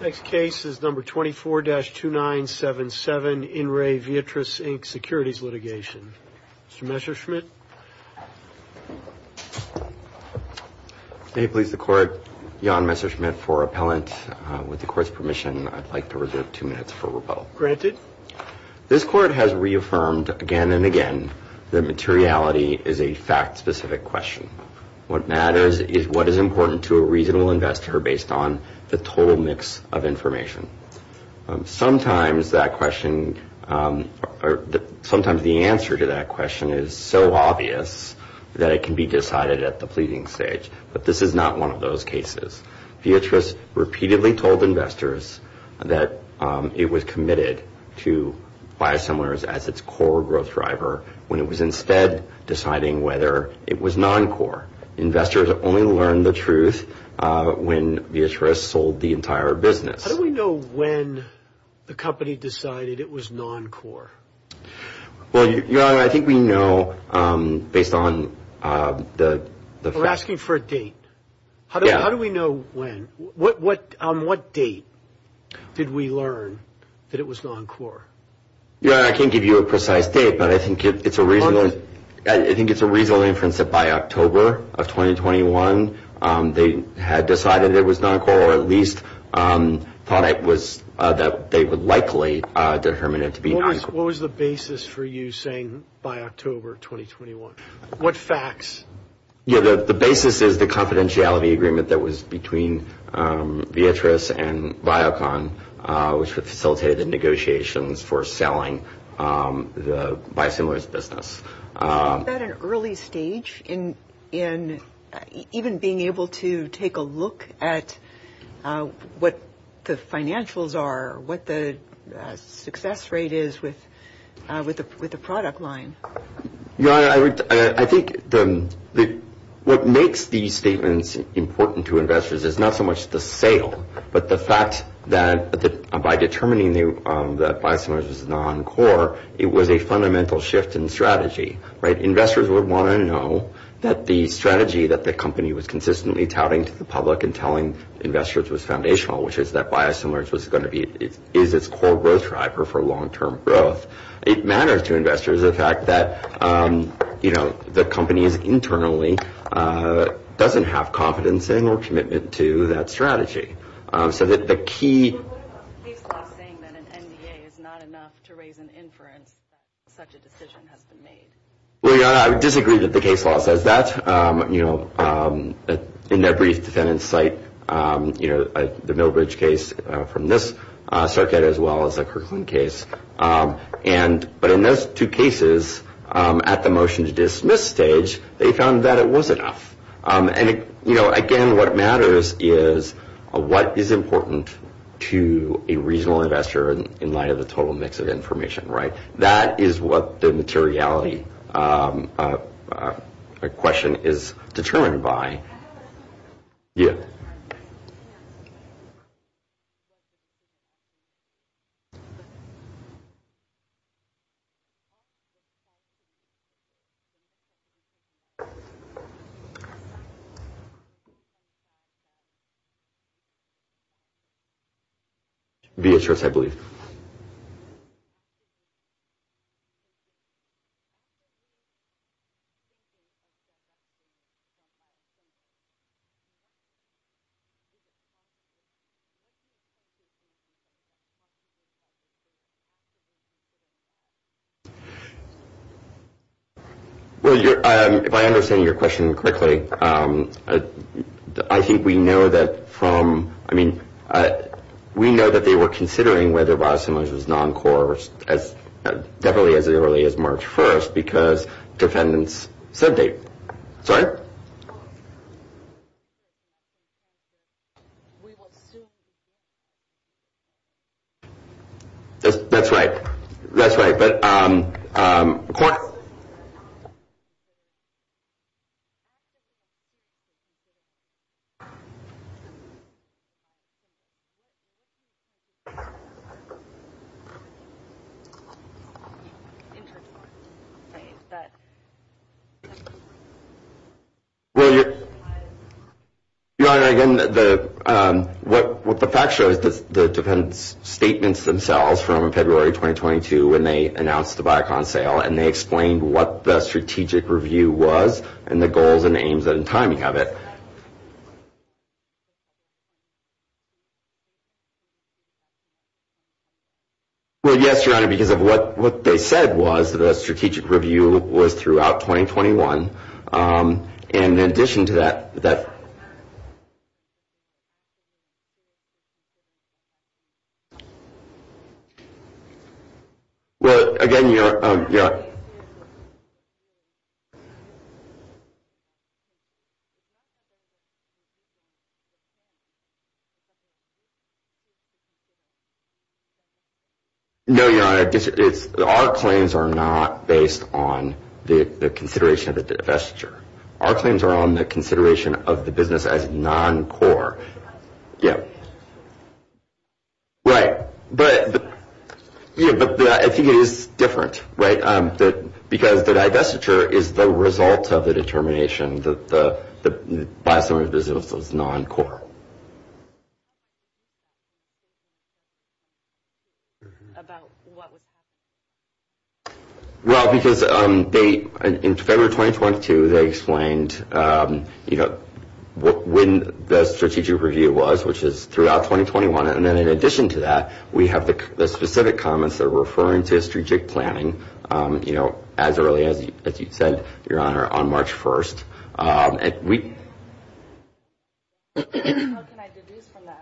Next case is number 24-2977, In Re Viatris Inc Securities Litigation. Mr. Messerschmidt. May it please the Court, Jan Messerschmidt for appellant. With the Court's permission, I'd like to reserve two minutes for rebuttal. This Court has reaffirmed again and again that materiality is a fact-specific question. What matters is what is important to a reasonable investor based on the total mix of information. Sometimes the answer to that question is so obvious that it can be decided at the pleading stage, but this is not one of those cases. Viatris repeatedly told investors that it was committed to buy assemblers as its core growth driver when it was instead deciding whether it was non-core. Investors only learned the truth when Viatris sold the entire business. How do we know when the company decided it was non-core? Well, Your Honor, I think we know based on the... We're asking for a date. How do we know when? On what date did we learn that it was non-core? Your Honor, I can't give you a precise date, but I think it's a reasonable inference that by October of 2021, they had decided it was non-core or at least thought it was that they would likely determine it to be non-core. What was the basis for you saying by October 2021? What facts? Yeah, the basis is the confidentiality agreement that was between Viatris and Viacom, which facilitated the negotiations for selling the buy assemblers business. Isn't that an early stage in even being able to take a look at what the financials are, what the success rate is with the product line? Your Honor, I think what makes these statements important to investors is not so much the sale, but the fact that by determining that Viatris was non-core, it was a fundamental shift in strategy. Investors would want to know that the strategy that the company was consistently touting to the public and telling investors was foundational, which is that Viatris was going to be its core growth driver for long-term growth. It matters to investors the fact that the company is internally doesn't have confidence in or commitment to that strategy. So that the key... What about the case law saying that an NDA is not enough to raise an inference that such a decision has been made? Well, Your Honor, I disagree that the case law says that. In that brief defendant's site, the Millbridge case from this circuit as well as the Kirkland case. But in those two cases, at the motion to dismiss stage, they found that it was enough. And again, what matters is what is important to a regional investor in light of the total mix of information. Right. That is what the materiality question is determined by. Yeah. Viatris, I believe. Well, Your Honor, if I understand your question correctly, I think we know that from... I mean, we know that they were considering whether Viatris was non-core as definitely as early as March 1st because defendants' sub-date. Sorry? That's right. That's right. But... Well, Your Honor, again, what the fact shows is the defendants' statements themselves from February 2022 when they announced the Viacom sale and they explained what the strategic review was and the goals and aims and timing of it. Well, yes, Your Honor, because of what they said was that a strategic review was throughout 2021. And in addition to that... Well, again, Your Honor... No, Your Honor. Our claims are not based on the consideration of the divestiture. Our claims are on the consideration of the business as non-core. Right. But I think it is different, right, because the divestiture is the result of the determination by some of the businesses. It was non-core. Well, because in February 2022, they explained when the strategic review was, which is throughout 2021. And then in addition to that, we have the specific comments that are referring to strategic planning as early as you said, Your Honor, on March 1st. And we... How can I deduce from that?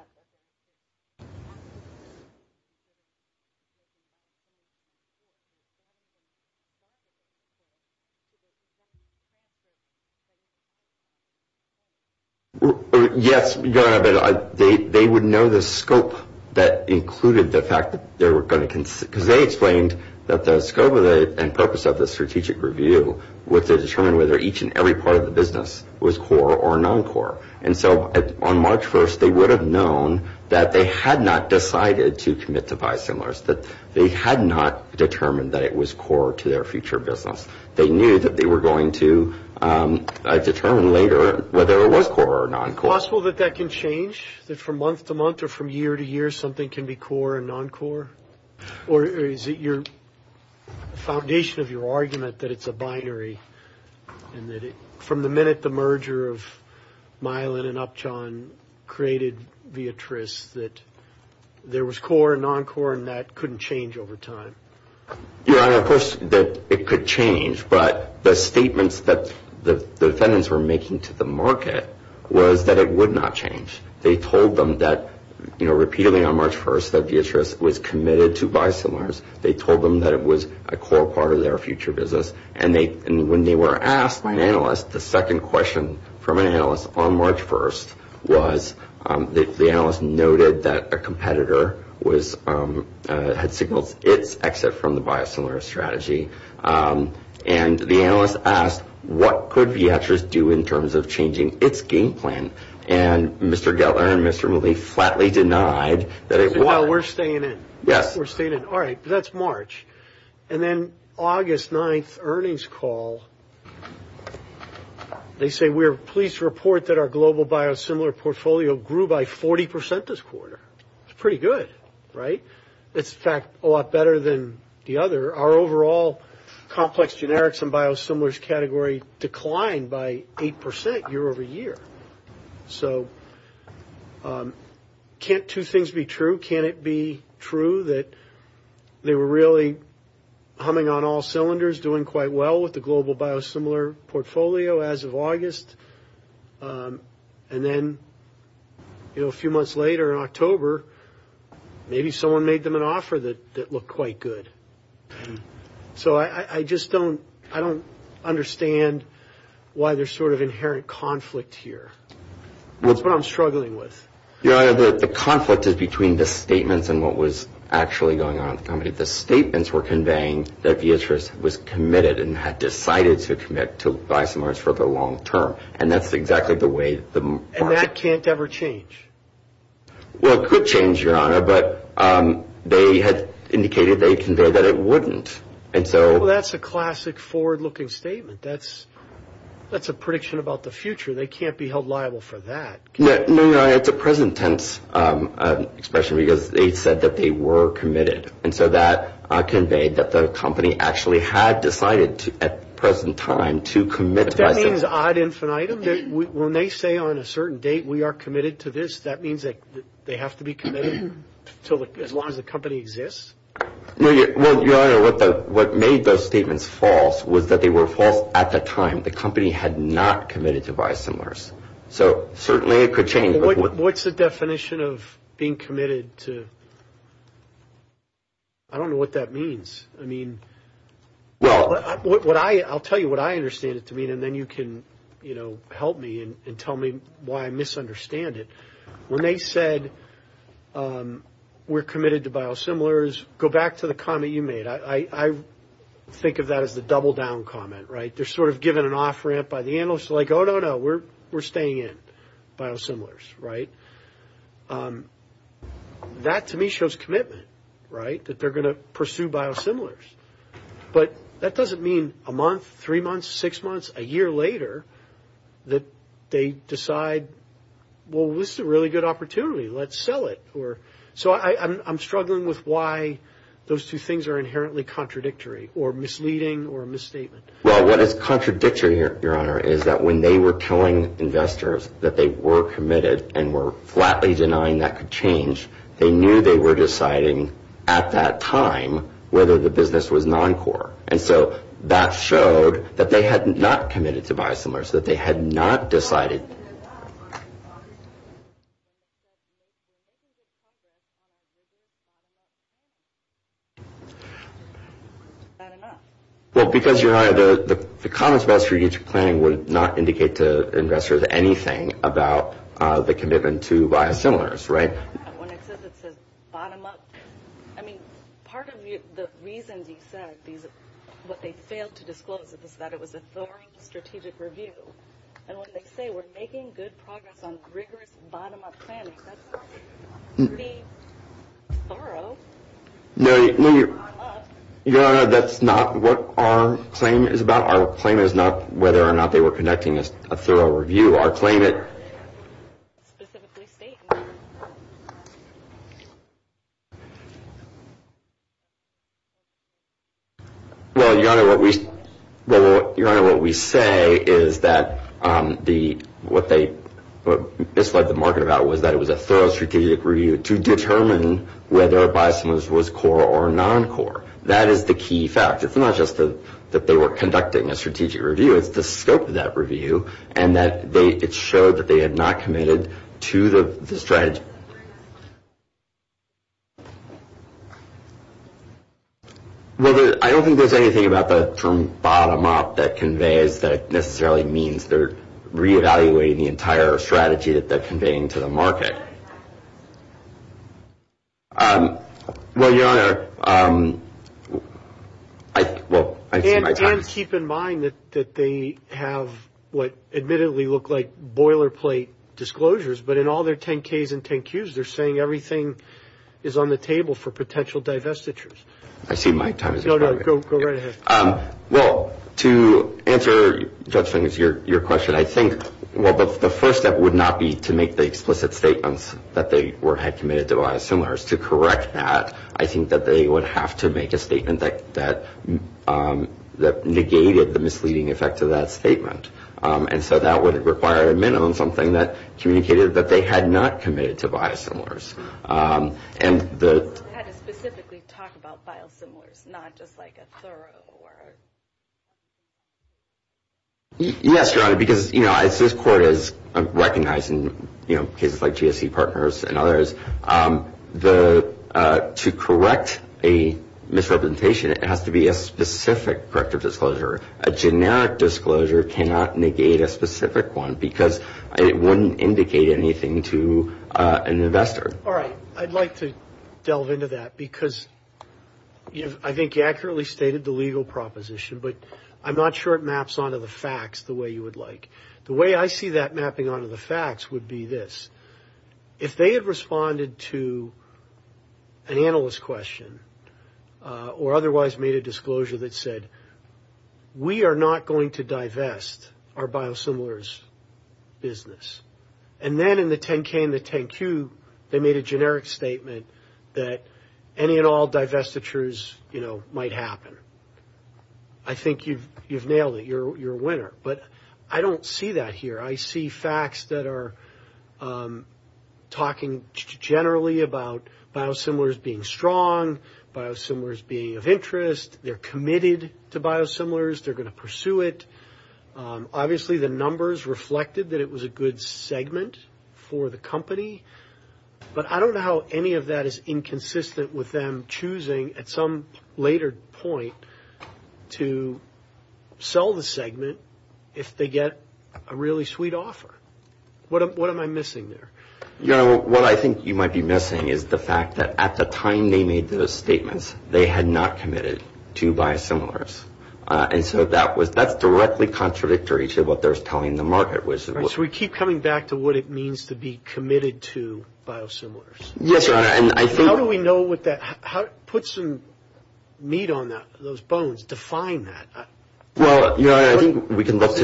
Yes, Your Honor, but they would know the scope that included the fact that they were going to... Because they explained that the scope and purpose of the strategic review was to determine whether each and every part of the business was core or non-core. And so on March 1st, they would have known that they had not decided to commit to buy similar, that they had not determined that it was core to their future business. They knew that they were going to determine later whether it was core or non-core. Is it possible that that can change, that from month to month or from year to year something can be core and non-core? Or is it your foundation of your argument that it's a binary and that from the minute the merger of Milan and Upjohn created Viatris, that there was core and non-core and that couldn't change over time? Your Honor, of course, that it could change. But the statements that the defendants were making to the market was that it would not change. They told them that repeatedly on March 1st that Viatris was committed to buy similars. They told them that it was a core part of their future business. And when they were asked by an analyst, the second question from an analyst on March 1st was, the analyst noted that a competitor had signaled its exit from the buy similar strategy. And the analyst asked, what could Viatris do in terms of changing its game plan? And Mr. Gellar and Mr. Mulvey flatly denied that it would. While we're staying in. Yes. We're staying in. All right. That's March. And then August 9th, earnings call. They say, we're pleased to report that our global buy similar portfolio grew by 40% this quarter. It's pretty good, right? It's, in fact, a lot better than the other. Our overall complex generics and buy similars category declined by 8% year over year. So can't two things be true? Can it be true that they were really humming on all cylinders, doing quite well with the global buy similar portfolio as of August? And then, you know, a few months later in October, maybe someone made them an offer that looked quite good. So I just don't, I don't understand why there's sort of inherent conflict here. That's what I'm struggling with. The conflict is between the statements and what was actually going on. The statements were conveying that the interest was committed and had decided to commit to buy similars for the long term. And that's exactly the way the market. And that can't ever change. Well, it could change, Your Honor, but they had indicated, they conveyed that it wouldn't. And so. Well, that's a classic forward-looking statement. That's a prediction about the future. They can't be held liable for that. No, Your Honor, it's a present tense expression because they said that they were committed. And so that conveyed that the company actually had decided at present time to commit to buy similars. That means ad infinitum? When they say on a certain date we are committed to this, that means that they have to be committed as long as the company exists? Well, Your Honor, what made those statements false was that they were false at the time. The company had not committed to buy similars. So certainly it could change. Well, what's the definition of being committed to? I don't know what that means. I mean, I'll tell you what I understand it to mean, and then you can, you know, help me and tell me why I misunderstand it. When they said we're committed to buy similars, go back to the comment you made. I think of that as the double-down comment, right? They're sort of given an off-ramp by the analyst. They're like, oh, no, no, we're staying in biosimilars, right? That to me shows commitment, right, that they're going to pursue biosimilars. But that doesn't mean a month, three months, six months, a year later that they decide, well, this is a really good opportunity, let's sell it. So I'm struggling with why those two things are inherently contradictory or misleading or a misstatement. Well, what is contradictory, Your Honor, is that when they were telling investors that they were committed and were flatly denying that could change, they knew they were deciding at that time whether the business was non-core. And so that showed that they had not committed to biosimilars, that they had not decided. And they didn't admit that. Well, because, Your Honor, the comments about strategic planning would not indicate to investors anything about the commitment to biosimilars, right? When it says it says bottom-up, I mean, part of the reasons you said what they failed to disclose is that it was a thorough strategic review. And when they say we're making good progress on rigorous bottom-up planning, that's pretty thorough. No, Your Honor, that's not what our claim is about. Our claim is not whether or not they were conducting a thorough review. Well, Your Honor, what we say is that what they misled the market about was that it was a thorough strategic review to determine whether biosimilars was core or non-core. That is the key fact. It's not just that they were conducting a strategic review. It's the scope of that review and that it showed that they had not committed to the strategy. Well, I don't think there's anything about the term bottom-up that conveys that it necessarily means they're reevaluating the entire strategy that they're conveying to the market. Well, Your Honor, I see my time is up. You can keep in mind that they have what admittedly look like boilerplate disclosures, but in all their 10-Ks and 10-Qs, they're saying everything is on the table for potential divestitures. I see my time is up. No, no, go right ahead. Well, to answer Judge Fink's question, I think the first step would not be to make the explicit statements that they had committed to biosimilars. To correct that, I think that they would have to make a statement that negated the misleading effect of that statement. And so that would require at a minimum something that communicated that they had not committed to biosimilars. I had to specifically talk about biosimilars, not just like a thorough word. Yes, Your Honor, because, you know, as this Court has recognized in cases like GSE Partners and others, to correct a misrepresentation, it has to be a specific corrective disclosure. A generic disclosure cannot negate a specific one because it wouldn't indicate anything to an investor. All right. I'd like to delve into that because I think you accurately stated the legal proposition, but I'm not sure it maps onto the facts the way you would like. The way I see that mapping onto the facts would be this. If they had responded to an analyst question or otherwise made a disclosure that said, we are not going to divest our biosimilars business, and then in the 10-K and the 10-Q, they made a generic statement that any and all divestitures, you know, might happen. I think you've nailed it. You're a winner. But I don't see that here. I see facts that are talking generally about biosimilars being strong, biosimilars being of interest. They're committed to biosimilars. They're going to pursue it. Obviously, the numbers reflected that it was a good segment for the company, but I don't know how any of that is inconsistent with them choosing at some later point to sell the segment if they get a really sweet offer. What am I missing there? Your Honor, what I think you might be missing is the fact that at the time they made those statements, they had not committed to biosimilars. And so that's directly contradictory to what they're telling the market. So we keep coming back to what it means to be committed to biosimilars. Yes, Your Honor. How do we know what that – put some meat on those bones, define that? Well, Your Honor, I think we can look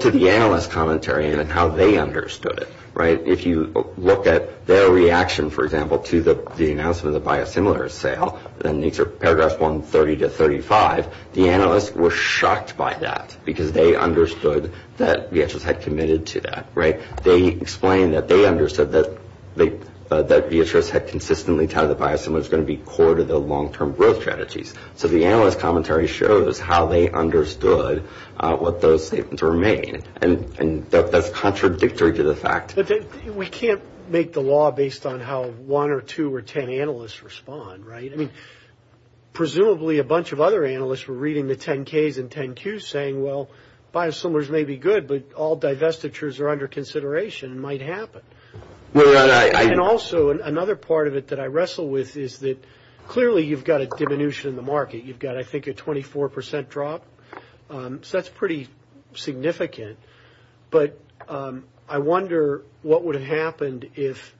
to the analyst commentary and how they understood it, right? If you look at their reaction, for example, to the announcement of the biosimilars sale, and these are paragraphs 130 to 135, the analysts were shocked by that because they understood that VHS had committed to that, right? They explained that they understood that VHS had consistently touted the biosimilars was going to be core to the long-term growth strategies. So the analyst commentary shows how they understood what those statements were made, and that's contradictory to the fact. We can't make the law based on how one or two or ten analysts respond, right? I mean, presumably a bunch of other analysts were reading the 10-Ks and 10-Qs saying, well, biosimilars may be good, but all divestitures are under consideration and might happen. And also another part of it that I wrestle with is that clearly you've got a diminution in the market. You've got, I think, a 24 percent drop. So that's pretty significant. But I wonder what would have happened if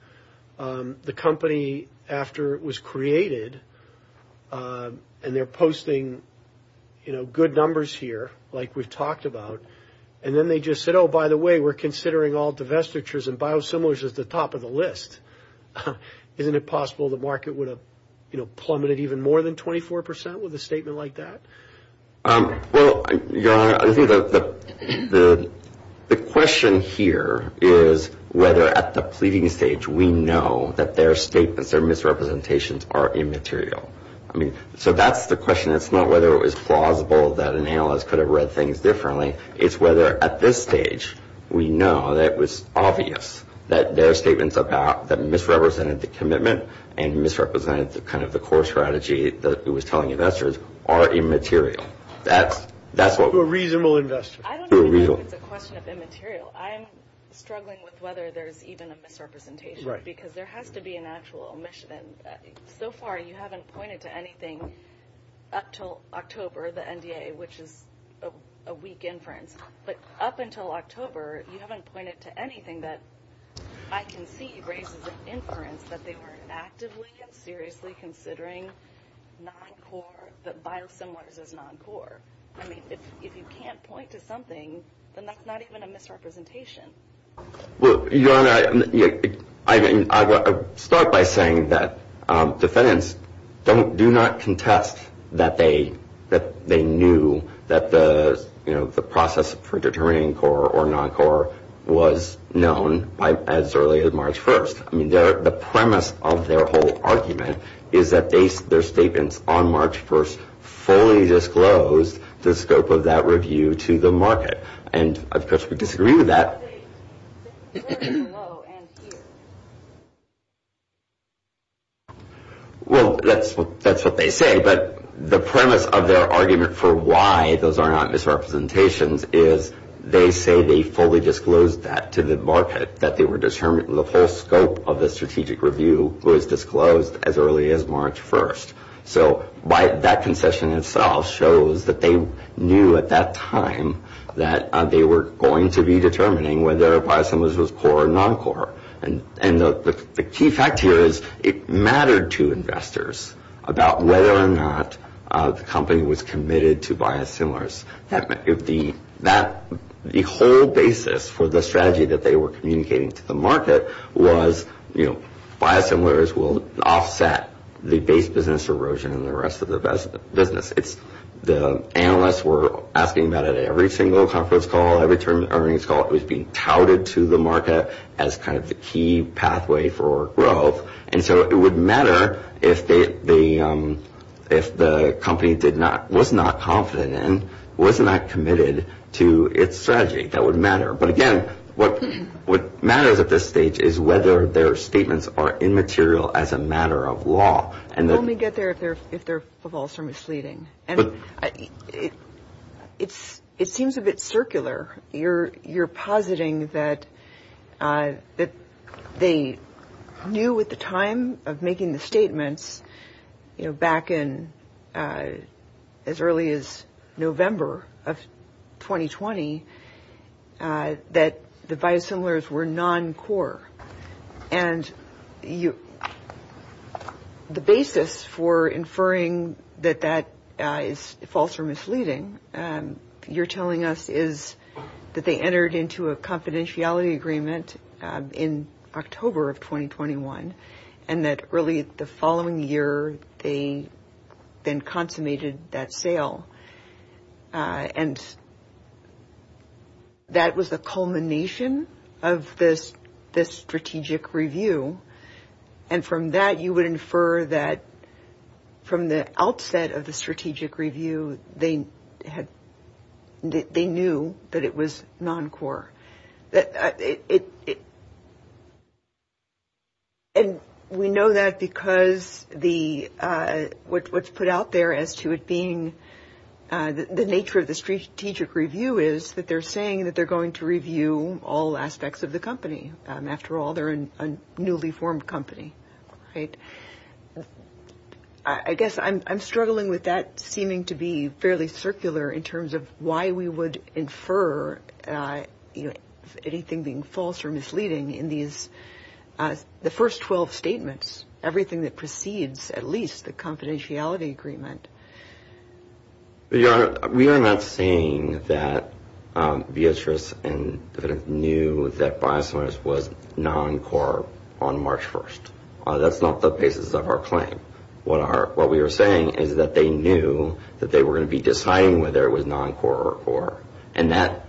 the company, after it was created, and they're posting good numbers here, like we've talked about, and then they just said, oh, by the way, we're considering all divestitures and biosimilars as the top of the list. Isn't it possible the market would have plummeted even more than 24 percent with a statement like that? Well, Your Honor, I think the question here is whether at the pleading stage we know that their statements, their misrepresentations are immaterial. So that's the question. It's not whether it was plausible that an analyst could have read things differently. It's whether at this stage we know that it was obvious that their statements about that misrepresented the commitment and misrepresented kind of the core strategy that it was telling investors are immaterial. To a reasonable investor. I don't think it's a question of immaterial. I'm struggling with whether there's even a misrepresentation. Because there has to be an actual omission. So far you haven't pointed to anything up until October, the NDA, which is a weak inference. But up until October you haven't pointed to anything that I can see raises an inference that they weren't actively and seriously considering biosimilars as non-core. I mean, if you can't point to something, then that's not even a misrepresentation. Well, Your Honor, I mean, I'll start by saying that defendants do not contest that they knew that the process for determining core or non-core was known as early as March 1st. I mean, the premise of their whole argument is that their statements on March 1st fully disclosed the scope of that review to the market. And, of course, we disagree with that. Well, that's what they say. But the premise of their argument for why those are not misrepresentations is they say they fully disclosed that to the market, that the whole scope of the strategic review was disclosed as early as March 1st. So that concession itself shows that they knew at that time that they were going to be determining whether biosimilars was core or non-core. And the key fact here is it mattered to investors about whether or not the company was committed to biosimilars. The whole basis for the strategy that they were communicating to the market was, you know, biosimilars will offset the base business erosion in the rest of the business. The analysts were asking about it at every single conference call, every term of earnings call. It was being touted to the market as kind of the key pathway for growth. And so it would matter if the company was not confident and was not committed to its strategy. That would matter. But, again, what matters at this stage is whether their statements are immaterial as a matter of law. Let me get there if they're false or misleading. It seems a bit circular. You're positing that they knew at the time of making the statements, you know, back in as early as November of 2020 that the biosimilars were non-core. And the basis for inferring that that is false or misleading, you're telling us is that they entered into a confidentiality agreement in October of 2021 and that really the following year they then consummated that sale. And that was the culmination of this strategic review. And from that you would infer that from the outset of the strategic review they knew that it was non-core. And we know that because what's put out there as to it being the nature of the strategic review is that they're saying that they're going to review all aspects of the company. After all, they're a newly formed company, right? I guess I'm struggling with that seeming to be fairly circular in terms of why we would infer, you know, anything being false or misleading in these the first 12 statements, everything that precedes at least the confidentiality agreement. We are not saying that Beatrice and knew that biosimilars was non-core on March 1st. That's not the basis of our claim. What we are saying is that they knew that they were going to be deciding whether it was non-core or core. And that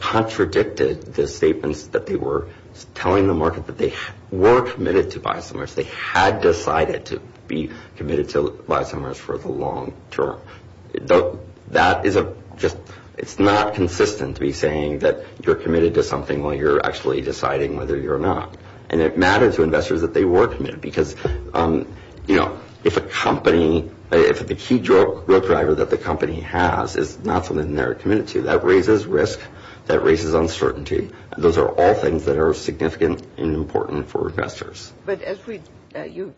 contradicted the statements that they were telling the market that they were committed to biosimilars. They had decided to be committed to biosimilars for the long term. That is a just – it's not consistent to be saying that you're committed to something while you're actually deciding whether you're not. And it matters to investors that they were committed because, you know, if a company – if the key drug driver that the company has is not something they're committed to, that raises risk, that raises uncertainty. Those are all things that are significant and important for investors. But as we – you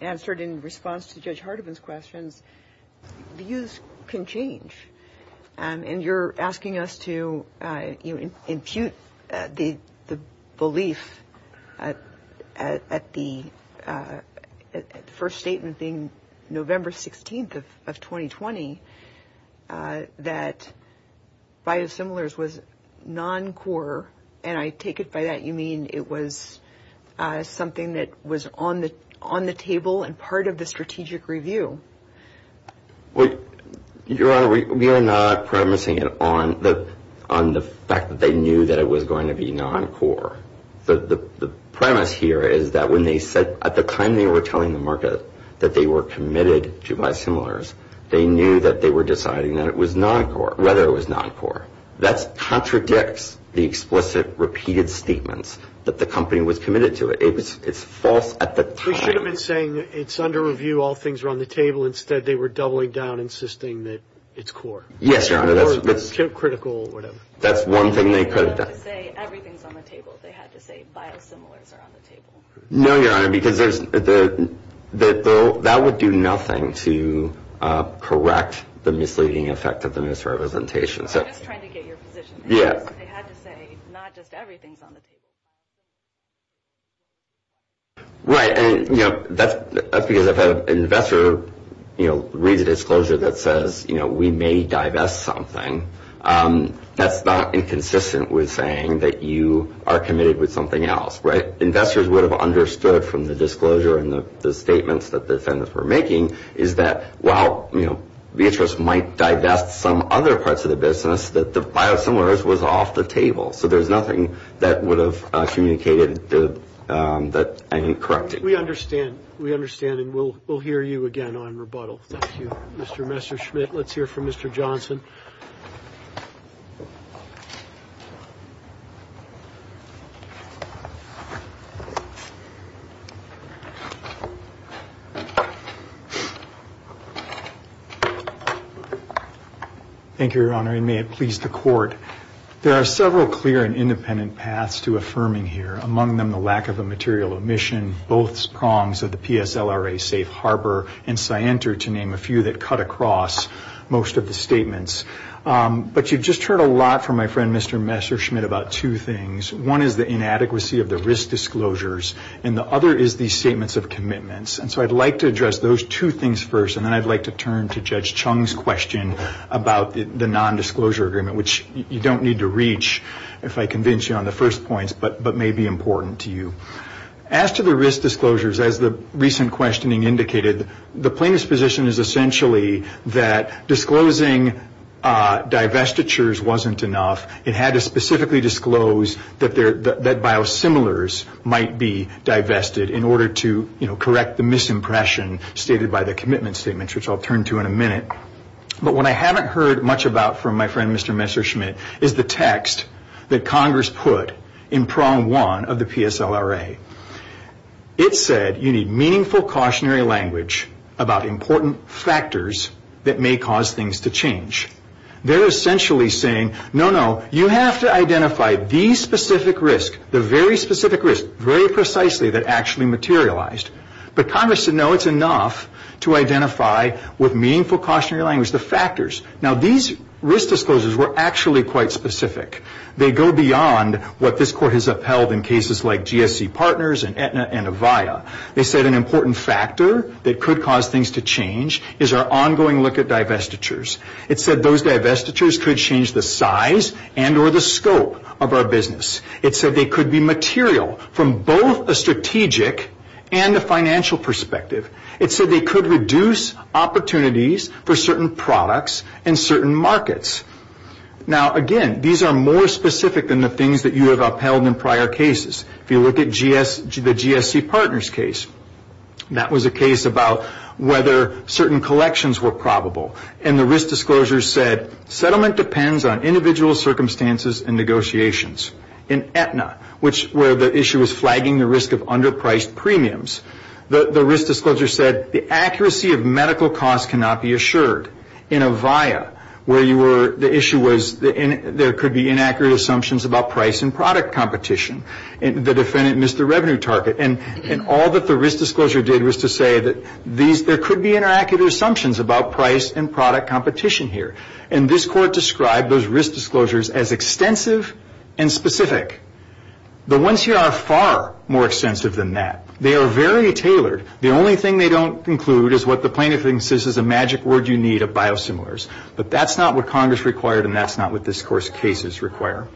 answered in response to Judge Hardiman's questions, views can change. And you're asking us to impute the belief at the first statement being November 16th of 2020 that biosimilars was non-core. And I take it by that you mean it was something that was on the table and part of the strategic review. Well, Your Honor, we are not promising it on the fact that they knew that it was going to be non-core. The premise here is that when they said at the time they were telling the market that they were committed to biosimilars, they knew that they were deciding that it was non-core – whether it was non-core. That contradicts the explicit repeated statements that the company was committed to. It's false at the time. Well, we should have been saying it's under review, all things are on the table. Instead, they were doubling down, insisting that it's core. Yes, Your Honor. Or critical or whatever. That's one thing they could have done. They would have to say everything's on the table if they had to say biosimilars are on the table. No, Your Honor, because that would do nothing to correct the misleading effect of the misrepresentation. I'm just trying to get your position. They had to say not just everything's on the table. Right. And, you know, that's because if an investor, you know, reads a disclosure that says, you know, we may divest something, that's not inconsistent with saying that you are committed with something else, right? Investors would have understood from the disclosure and the statements that the defendants were making is that while, you know, Vietras might divest some other parts of the business, that the biosimilars was off the table. So there's nothing that would have communicated that ain't correct. We understand. We understand, and we'll hear you again on rebuttal. Thank you, Mr. Messerschmitt. Let's hear from Mr. Johnson. Thank you, Your Honor, and may it please the Court. There are several clear and independent paths to affirming here, among them the lack of a material omission, both prongs of the PSLRA safe harbor and scienter, to name a few, that cut across most of the statements. But you've just heard a lot from my friend, Mr. Messerschmitt, about two things. One is the inadequacy of the risk disclosures, and the other is the statements of commitments. And so I'd like to address those two things first, and then I'd like to turn to Judge Chung's question about the nondisclosure agreement, which you don't need to reach, if I convince you on the first points, but may be important to you. As to the risk disclosures, as the recent questioning indicated, the plaintiff's position is essentially that disclosing divestitures wasn't enough. It had to specifically disclose that biosimilars might be divested in order to, you know, which I'll turn to in a minute. But what I haven't heard much about from my friend, Mr. Messerschmitt, is the text that Congress put in prong one of the PSLRA. It said you need meaningful cautionary language about important factors that may cause things to change. They're essentially saying, no, no, you have to identify the specific risk, the very specific risk, very precisely, that actually materialized. But Congress said, no, it's enough to identify with meaningful cautionary language the factors. Now, these risk disclosures were actually quite specific. They go beyond what this Court has upheld in cases like GSC Partners and Avia. They said an important factor that could cause things to change is our ongoing look at divestitures. It said those divestitures could change the size and or the scope of our business. It said they could be material from both a strategic and a financial perspective. It said they could reduce opportunities for certain products and certain markets. Now, again, these are more specific than the things that you have upheld in prior cases. If you look at the GSC Partners case, that was a case about whether certain collections were probable. And the risk disclosure said settlement depends on individual circumstances and negotiations. In Aetna, where the issue was flagging the risk of underpriced premiums, the risk disclosure said the accuracy of medical costs cannot be assured. In Avia, where the issue was there could be inaccurate assumptions about price and product competition. The defendant missed the revenue target. And all that the risk disclosure did was to say that there could be inaccurate assumptions about price and product competition here. And this Court described those risk disclosures as extensive and specific. The ones here are far more extensive than that. They are very tailored. The only thing they don't include is what the plaintiff thinks is a magic word you need of biosimilars. But that's not what Congress required, and that's not what this Court's cases require.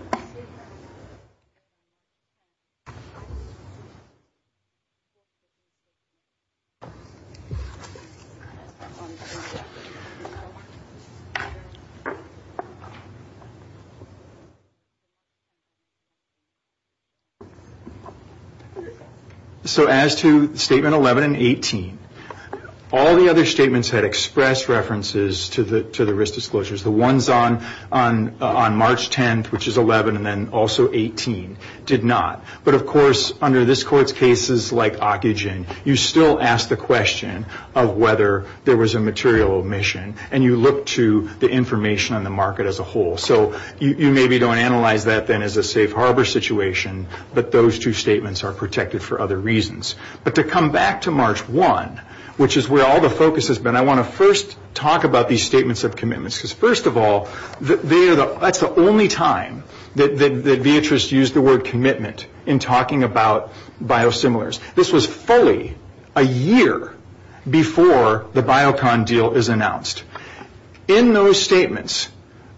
So as to Statement 11 and 18, all the other statements had expressed references to the risk disclosures. The ones on March 10th, which is 11, and then also 18, did not. But, of course, under this Court's cases like Ocugen, you still ask the question of whether there was a material omission. And you look to the information on the market as a whole. So you maybe don't analyze that, then, as a safe harbor situation, but those two statements are protected for other reasons. But to come back to March 1, which is where all the focus has been, I want to first talk about these statements of commitments. First of all, that's the only time that Beatrice used the word commitment in talking about biosimilars. This was fully a year before the Biocon deal is announced. In those statements,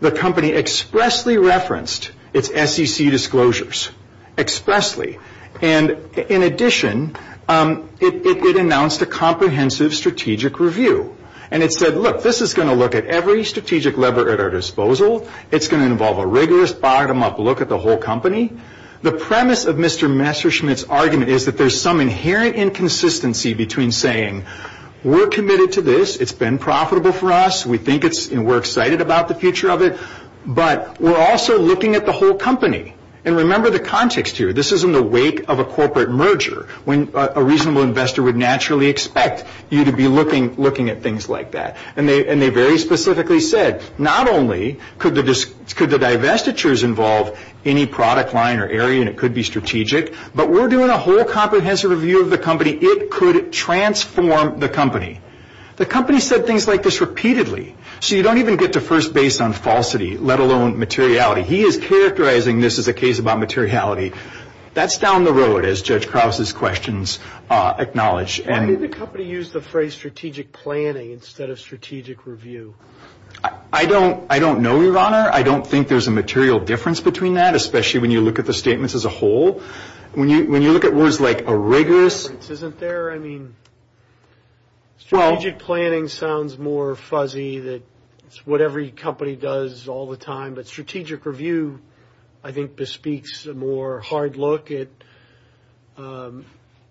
the company expressly referenced its SEC disclosures, expressly. And, in addition, it announced a comprehensive strategic review. And it said, look, this is going to look at every strategic lever at our disposal. It's going to involve a rigorous, bottom-up look at the whole company. The premise of Mr. Messerschmidt's argument is that there's some inherent inconsistency between saying, we're committed to this, it's been profitable for us, we think it's, and we're excited about the future of it, but we're also looking at the whole company. And remember the context here. This is in the wake of a corporate merger, when a reasonable investor would naturally expect you to be looking at things like that. And they very specifically said, not only could the divestitures involve any product line or area, and it could be strategic, but we're doing a whole comprehensive review of the company. It could transform the company. The company said things like this repeatedly. So you don't even get to first base on falsity, let alone materiality. He is characterizing this as a case about materiality. That's down the road, as Judge Krause's questions acknowledge. Why did the company use the phrase strategic planning instead of strategic review? I don't know, Your Honor. I don't think there's a material difference between that, especially when you look at the statements as a whole. When you look at words like a rigorous. It isn't there. I mean, strategic planning sounds more fuzzy, that it's what every company does all the time. But strategic review, I think, bespeaks a more hard look at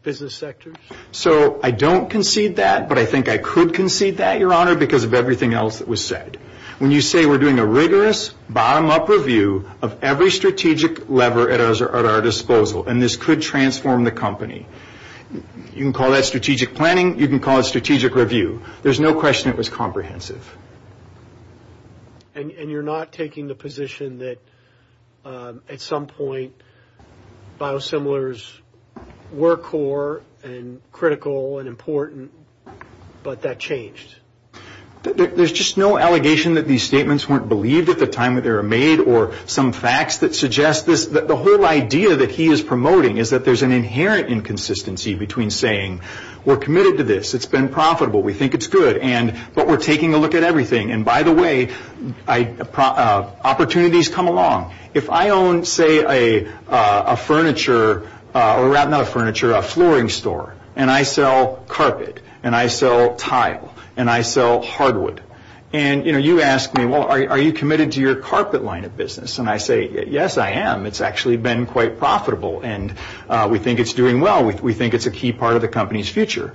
business sectors. So I don't concede that, but I think I could concede that, Your Honor, because of everything else that was said. When you say we're doing a rigorous, bottom-up review of every strategic lever at our disposal, and this could transform the company, you can call that strategic planning. You can call it strategic review. There's no question it was comprehensive. And you're not taking the position that, at some point, biosimilars were core and critical and important, but that changed? There's just no allegation that these statements weren't believed at the time that they were made or some facts that suggest this. The whole idea that he is promoting is that there's an inherent inconsistency between saying, we're committed to this, it's been profitable, we think it's good, but we're taking a look at everything. And, by the way, opportunities come along. If I own, say, a flooring store, and I sell carpet, and I sell tile, and I sell hardwood, and you ask me, well, are you committed to your carpet line of business? And I say, yes, I am. It's actually been quite profitable, and we think it's doing well. We think it's a key part of the company's future.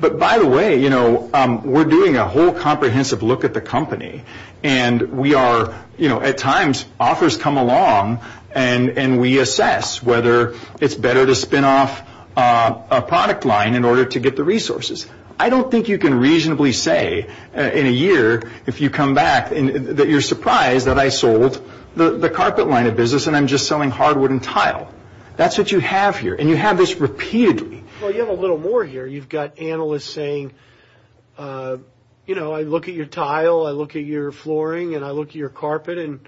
But, by the way, we're doing a whole comprehensive look at the company, and at times, offers come along, and we assess whether it's better to spin off a product line in order to get the resources. I don't think you can reasonably say in a year, if you come back, that you're surprised that I sold the carpet line of business and I'm just selling hardwood and tile. That's what you have here, and you have this repeatedly. Well, you have a little more here. You've got analysts saying, you know, I look at your tile, I look at your flooring, and I look at your carpet, and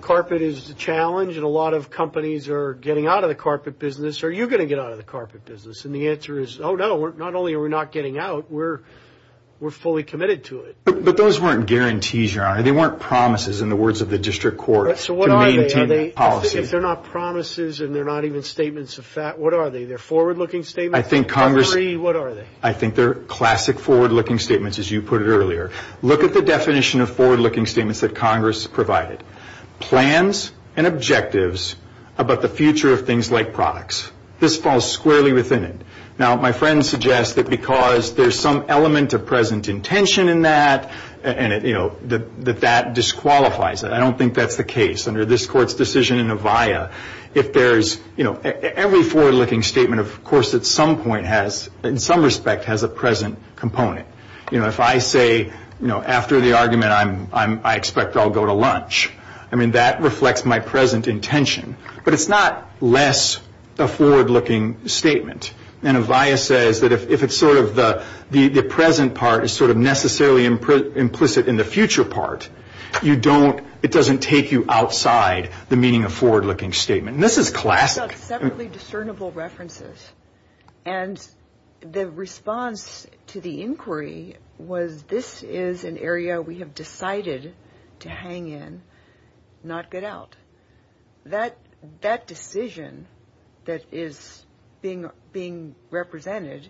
carpet is a challenge, and a lot of companies are getting out of the carpet business. Are you going to get out of the carpet business? And the answer is, oh, no, not only are we not getting out, we're fully committed to it. But those weren't guarantees, Your Honor. They weren't promises, in the words of the district court, to maintain that policy. If they're not promises and they're not even statements of fact, what are they? They're forward-looking statements? I think Congress ‑‑ Or three, what are they? I think they're classic forward-looking statements, as you put it earlier. Look at the definition of forward-looking statements that Congress provided. Plans and objectives about the future of things like products. This falls squarely within it. Now, my friend suggests that because there's some element of present intention in that, and, you know, that that disqualifies it. I don't think that's the case. Under this court's decision in Avaya, if there's, you know, every forward-looking statement, of course, at some point has, in some respect, has a present component. You know, if I say, you know, after the argument, I expect I'll go to lunch, I mean, that reflects my present intention. But it's not less a forward-looking statement. And Avaya says that if it's sort of the present part is sort of necessarily implicit in the future part, it doesn't take you outside the meaning of forward-looking statement. And this is classic. These are separately discernible references. And the response to the inquiry was this is an area we have decided to hang in, not get out. That decision that is being represented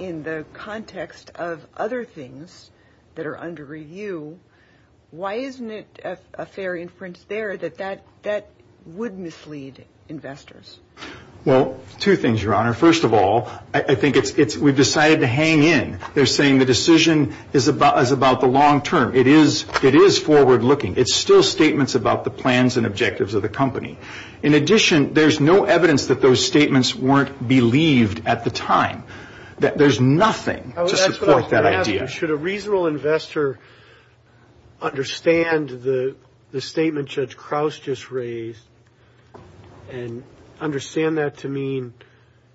in the context of other things that are under review, why isn't it a fair inference there that that would mislead investors? Well, two things, Your Honor. First of all, I think it's we've decided to hang in. They're saying the decision is about the long term. It is forward-looking. It's still statements about the plans and objectives of the company. In addition, there's no evidence that those statements weren't believed at the time. There's nothing to support that idea. Should a reasonable investor understand the statement Judge Krauss just raised and understand that to mean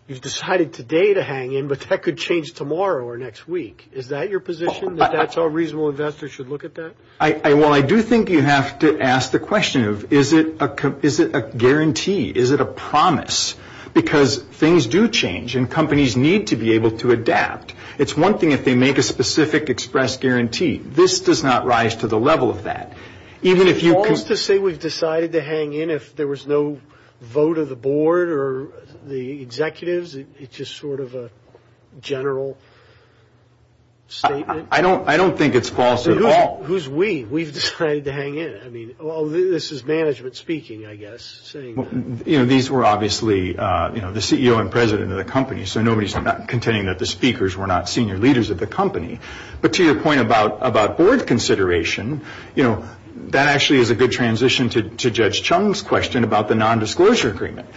you've decided today to hang in, but that could change tomorrow or next week? Is that your position, that that's how reasonable investors should look at that? Well, I do think you have to ask the question of is it a guarantee? Is it a promise? Because things do change, and companies need to be able to adapt. It's one thing if they make a specific express guarantee. This does not rise to the level of that. Is it false to say we've decided to hang in if there was no vote of the board or the executives? It's just sort of a general statement? I don't think it's false at all. Who's we? We've decided to hang in. This is management speaking, I guess, saying that. These were obviously the CEO and president of the company, so nobody's contending that the speakers were not senior leaders of the company. But to your point about board consideration, that actually is a good transition to Judge Chung's question about the nondisclosure agreement.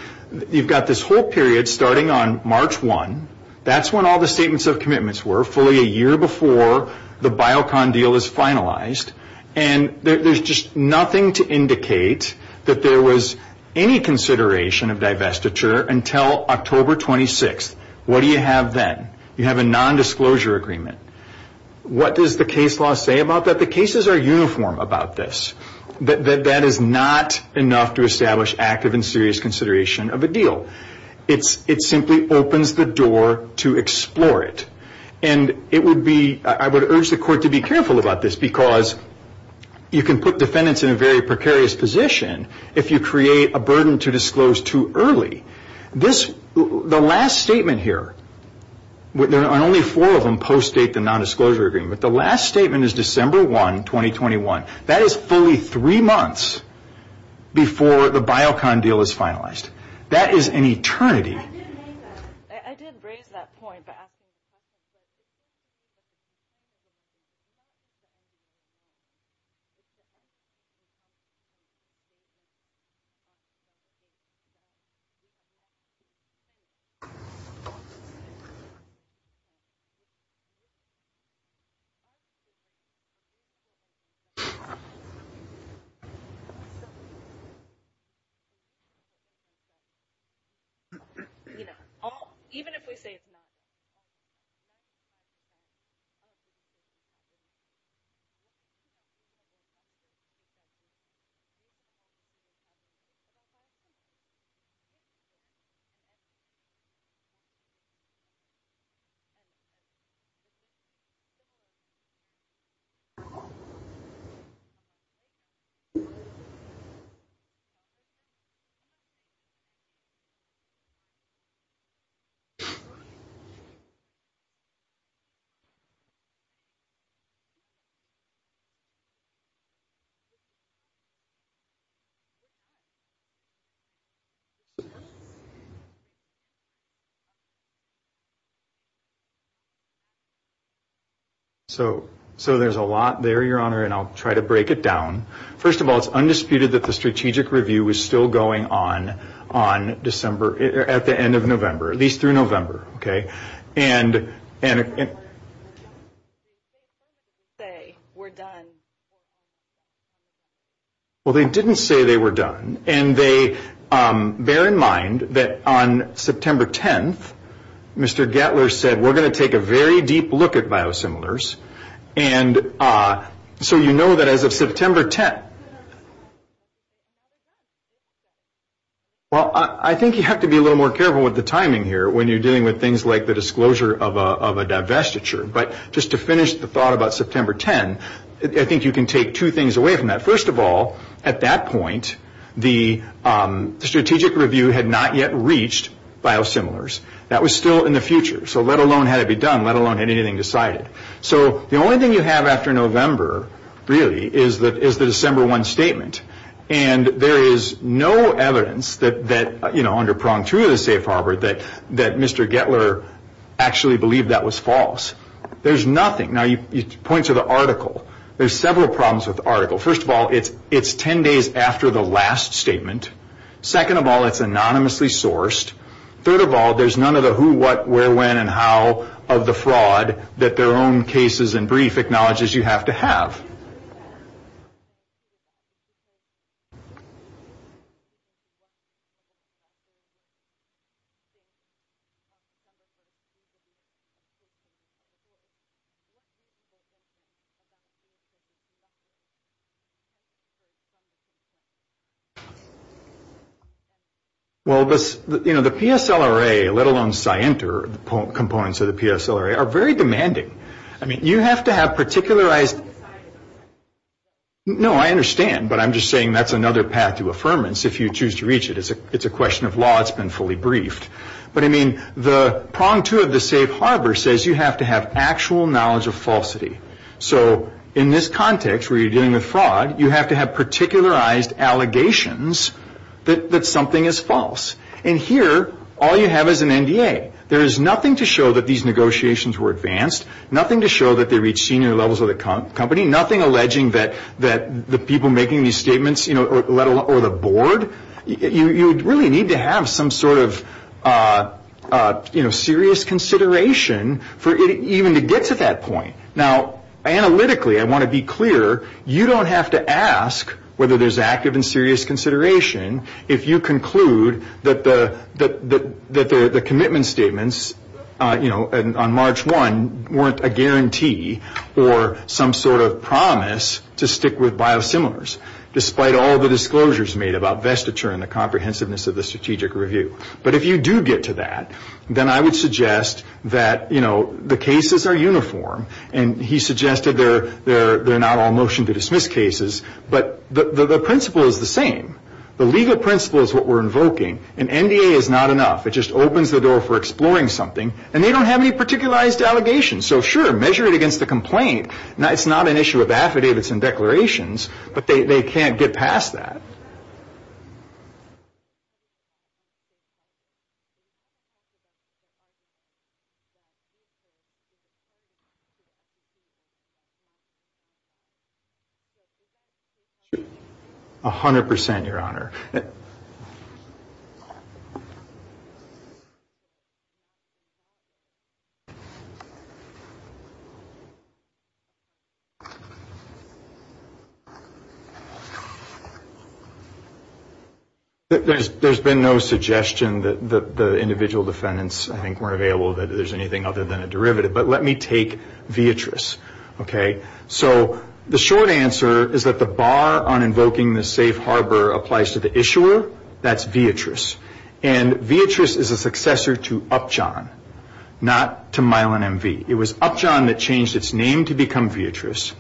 You've got this whole period starting on March 1. That's when all the statements of commitments were. That's sort of fully a year before the Biocon deal is finalized, and there's just nothing to indicate that there was any consideration of divestiture until October 26. What do you have then? You have a nondisclosure agreement. What does the case law say about that? The cases are uniform about this. That is not enough to establish active and serious consideration of a deal. It simply opens the door to explore it. I would urge the court to be careful about this because you can put defendants in a very precarious position if you create a burden to disclose too early. The last statement here, and only four of them post-date the nondisclosure agreement, the last statement is December 1, 2021. That is fully three months before the Biocon deal is finalized. That is an eternity. Even if we say it's not. So there's a lot there, Your Honor, and I'll try to break it down. First of all, it's undisputed that the strategic review is still going on. on December, at the end of November, at least through November. And, and, and. They were done. Well, they didn't say they were done. And they, bear in mind that on September 10th, Mr. Gettler said, we're going to take a very deep look at biosimilars. And so you know that as of September 10th. Well, I think you have to be a little more careful with the timing here when you're dealing with things like the disclosure of a divestiture. But just to finish the thought about September 10, I think you can take two things away from that. First of all, at that point, the strategic review had not yet reached biosimilars. That was still in the future. So let alone had it be done, let alone had anything decided. So the only thing you have after November, really, is the December 1 statement. And there is no evidence that, you know, under prong two of the safe harbor, that Mr. Gettler actually believed that was false. There's nothing. Now you point to the article. There's several problems with the article. First of all, it's 10 days after the last statement. Second of all, it's anonymously sourced. Third of all, there's none of the who, what, where, when, and how of the fraud that their own cases and brief acknowledges you have to have. Well, you know, the PSLRA, let alone Scienter, the components of the PSLRA, are very demanding. I mean, you have to have particularized. No, I understand. But I'm just saying that's another path to affirmance if you choose to reach it. It's a question of law. It's been fully briefed. But, I mean, the prong two of the safe harbor says you have to have actual knowledge of falsity. So in this context where you're dealing with fraud, you have to have particularized allegations that something is false. And here, all you have is an NDA. There is nothing to show that these negotiations were advanced, nothing to show that they reached senior levels of the company, nothing alleging that the people making these statements or the board, you really need to have some sort of serious consideration for it even to get to that point. Now, analytically, I want to be clear, you don't have to ask whether there's active and serious consideration if you conclude that the commitment statements, you know, on March 1, weren't a guarantee or some sort of promise to stick with biosimilars, despite all the disclosures made about vestiture and the comprehensiveness of the strategic review. But if you do get to that, then I would suggest that, you know, the cases are uniform. And he suggested they're not all motion to dismiss cases. But the principle is the same. The legal principle is what we're invoking. An NDA is not enough. It just opens the door for exploring something. And they don't have any particularized allegations. So, sure, measure it against the complaint. It's not an issue of affidavits and declarations, but they can't get past that. A hundred percent, Your Honor. There's been no suggestion that the individual defendants, I think, weren't available that there's anything other than a derivative. But let me take Vietras, okay? So the short answer is that the bar on invoking the safe harbor applies to the issuer. That's Vietras. And Vietras is a successor to Upjohn, not to Milan MV. It was Upjohn that changed its name to become Vietras.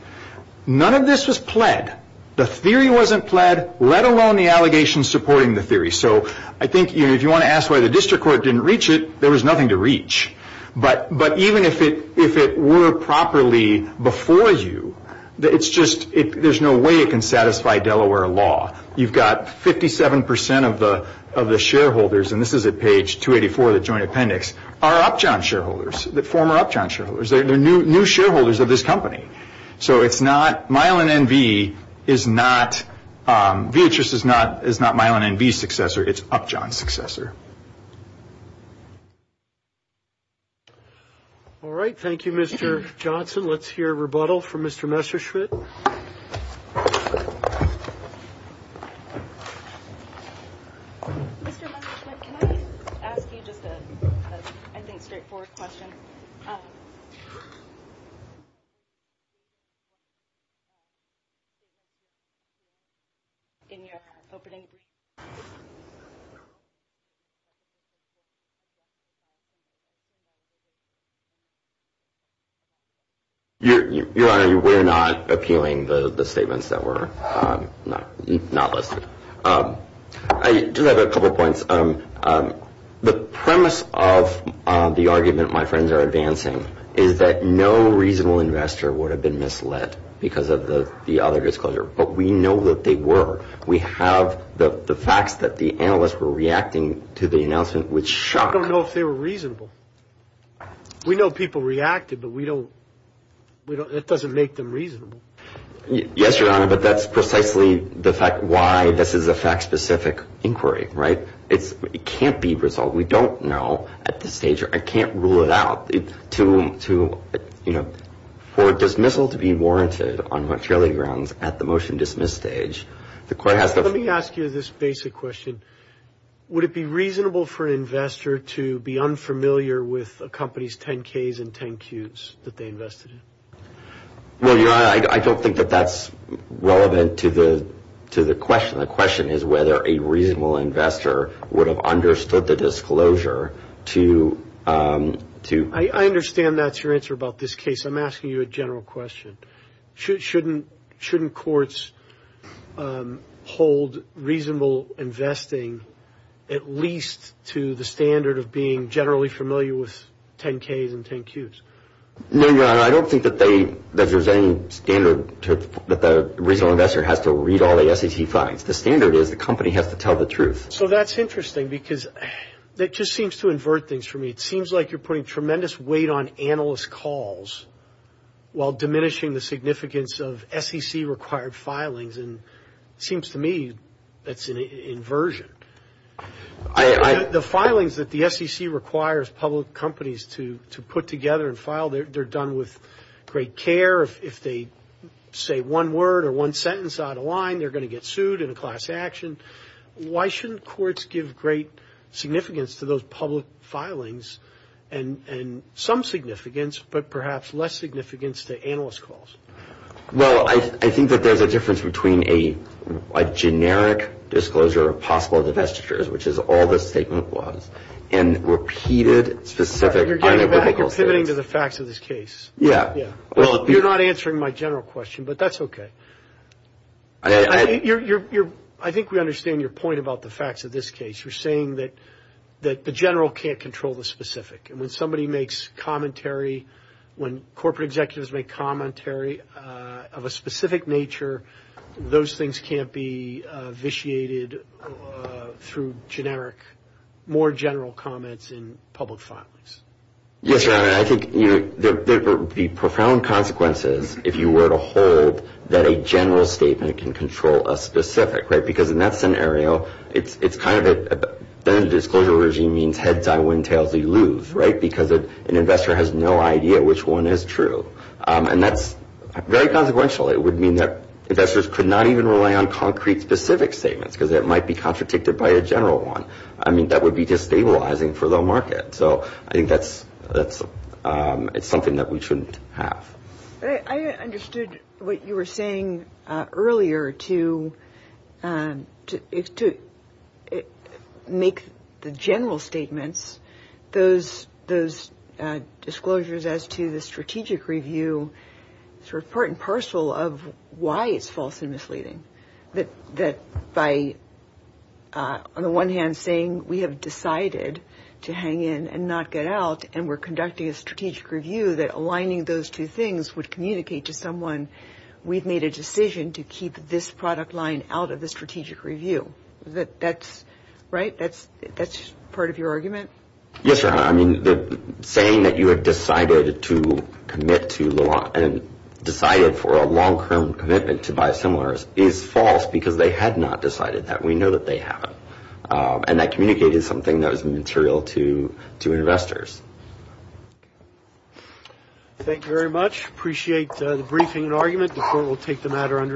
None of this was pled. The theory wasn't pled, let alone the allegations supporting the theory. So I think if you want to ask why the district court didn't reach it, there was nothing to reach. But even if it were properly before you, it's just there's no way it can satisfy Delaware law. You've got 57 percent of the shareholders, and this is at page 284 of the joint appendix, are Upjohn shareholders, former Upjohn shareholders. They're new shareholders of this company. So it's not – Milan MV is not – Vietras is not Milan MV's successor. It's Upjohn's successor. All right. Thank you, Mr. Johnson. Let's hear rebuttal from Mr. Messerschmidt. Mr. Messerschmidt, can I ask you just a, I think, straightforward question? I don't know. Your Honor, we're not appealing the statements that were not listed. I do have a couple of points. The premise of the argument my friends are advancing is that no reasonable investor would have been misled because of the other disclosure. But we know that they were. We have the facts that the analysts were reacting to the announcement with shock. I don't know if they were reasonable. We know people reacted, but we don't – it doesn't make them reasonable. Yes, Your Honor, but that's precisely the fact why this is a fact-specific inquiry, right? It can't be resolved. We don't know at this stage. I can't rule it out. For dismissal to be warranted on material grounds at the motion dismiss stage, the court has to – Let me ask you this basic question. Would it be reasonable for an investor to be unfamiliar with a company's 10-Ks and 10-Qs that they invested in? Well, Your Honor, I don't think that that's relevant to the question. The question is whether a reasonable investor would have understood the disclosure to – I understand that's your answer about this case. I'm asking you a general question. Shouldn't courts hold reasonable investing at least to the standard of being generally familiar with 10-Ks and 10-Qs? No, Your Honor, I don't think that there's any standard that the reasonable investor has to read all the SEC files. The standard is the company has to tell the truth. So that's interesting because that just seems to invert things for me. It seems like you're putting tremendous weight on analyst calls while diminishing the significance of SEC-required filings, and it seems to me that's an inversion. The filings that the SEC requires public companies to put together and file, they're done with great care. If they say one word or one sentence out of line, they're going to get sued in a class action. Why shouldn't courts give great significance to those public filings and some significance but perhaps less significance to analyst calls? Well, I think that there's a difference between a generic disclosure of possible divestitures, which is all this statement was, and repeated specific unequivocal statements. I think you're pivoting to the facts of this case. Yeah. You're not answering my general question, but that's okay. I think we understand your point about the facts of this case. You're saying that the general can't control the specific. And when somebody makes commentary, when corporate executives make commentary of a specific nature, those things can't be vitiated through generic, more general comments in public filings. Yes, Your Honor. I think there would be profound consequences if you were to hold that a general statement can control a specific, right? Because in that scenario, then a disclosure regime means heads, I win, tails, we lose, right? Because an investor has no idea which one is true. And that's very consequential. It would mean that investors could not even rely on concrete specific statements because it might be contradicted by a general one. I mean, that would be destabilizing for the market. So I think that's something that we shouldn't have. I understood what you were saying earlier to make the general statements, those disclosures as to the strategic review sort of part and parcel of why it's false and misleading. That by, on the one hand, saying we have decided to hang in and not get out and we're conducting a strategic review, that aligning those two things would communicate to someone, we've made a decision to keep this product line out of the strategic review. That's right? That's part of your argument? Yes, Your Honor. I mean, saying that you have decided to commit to and decided for a long-term commitment to buy similars is false because they had not decided that. We know that they haven't. And that communicated something that was material to investors. Thank you very much. Appreciate the briefing and argument. The court will take the matter under its own.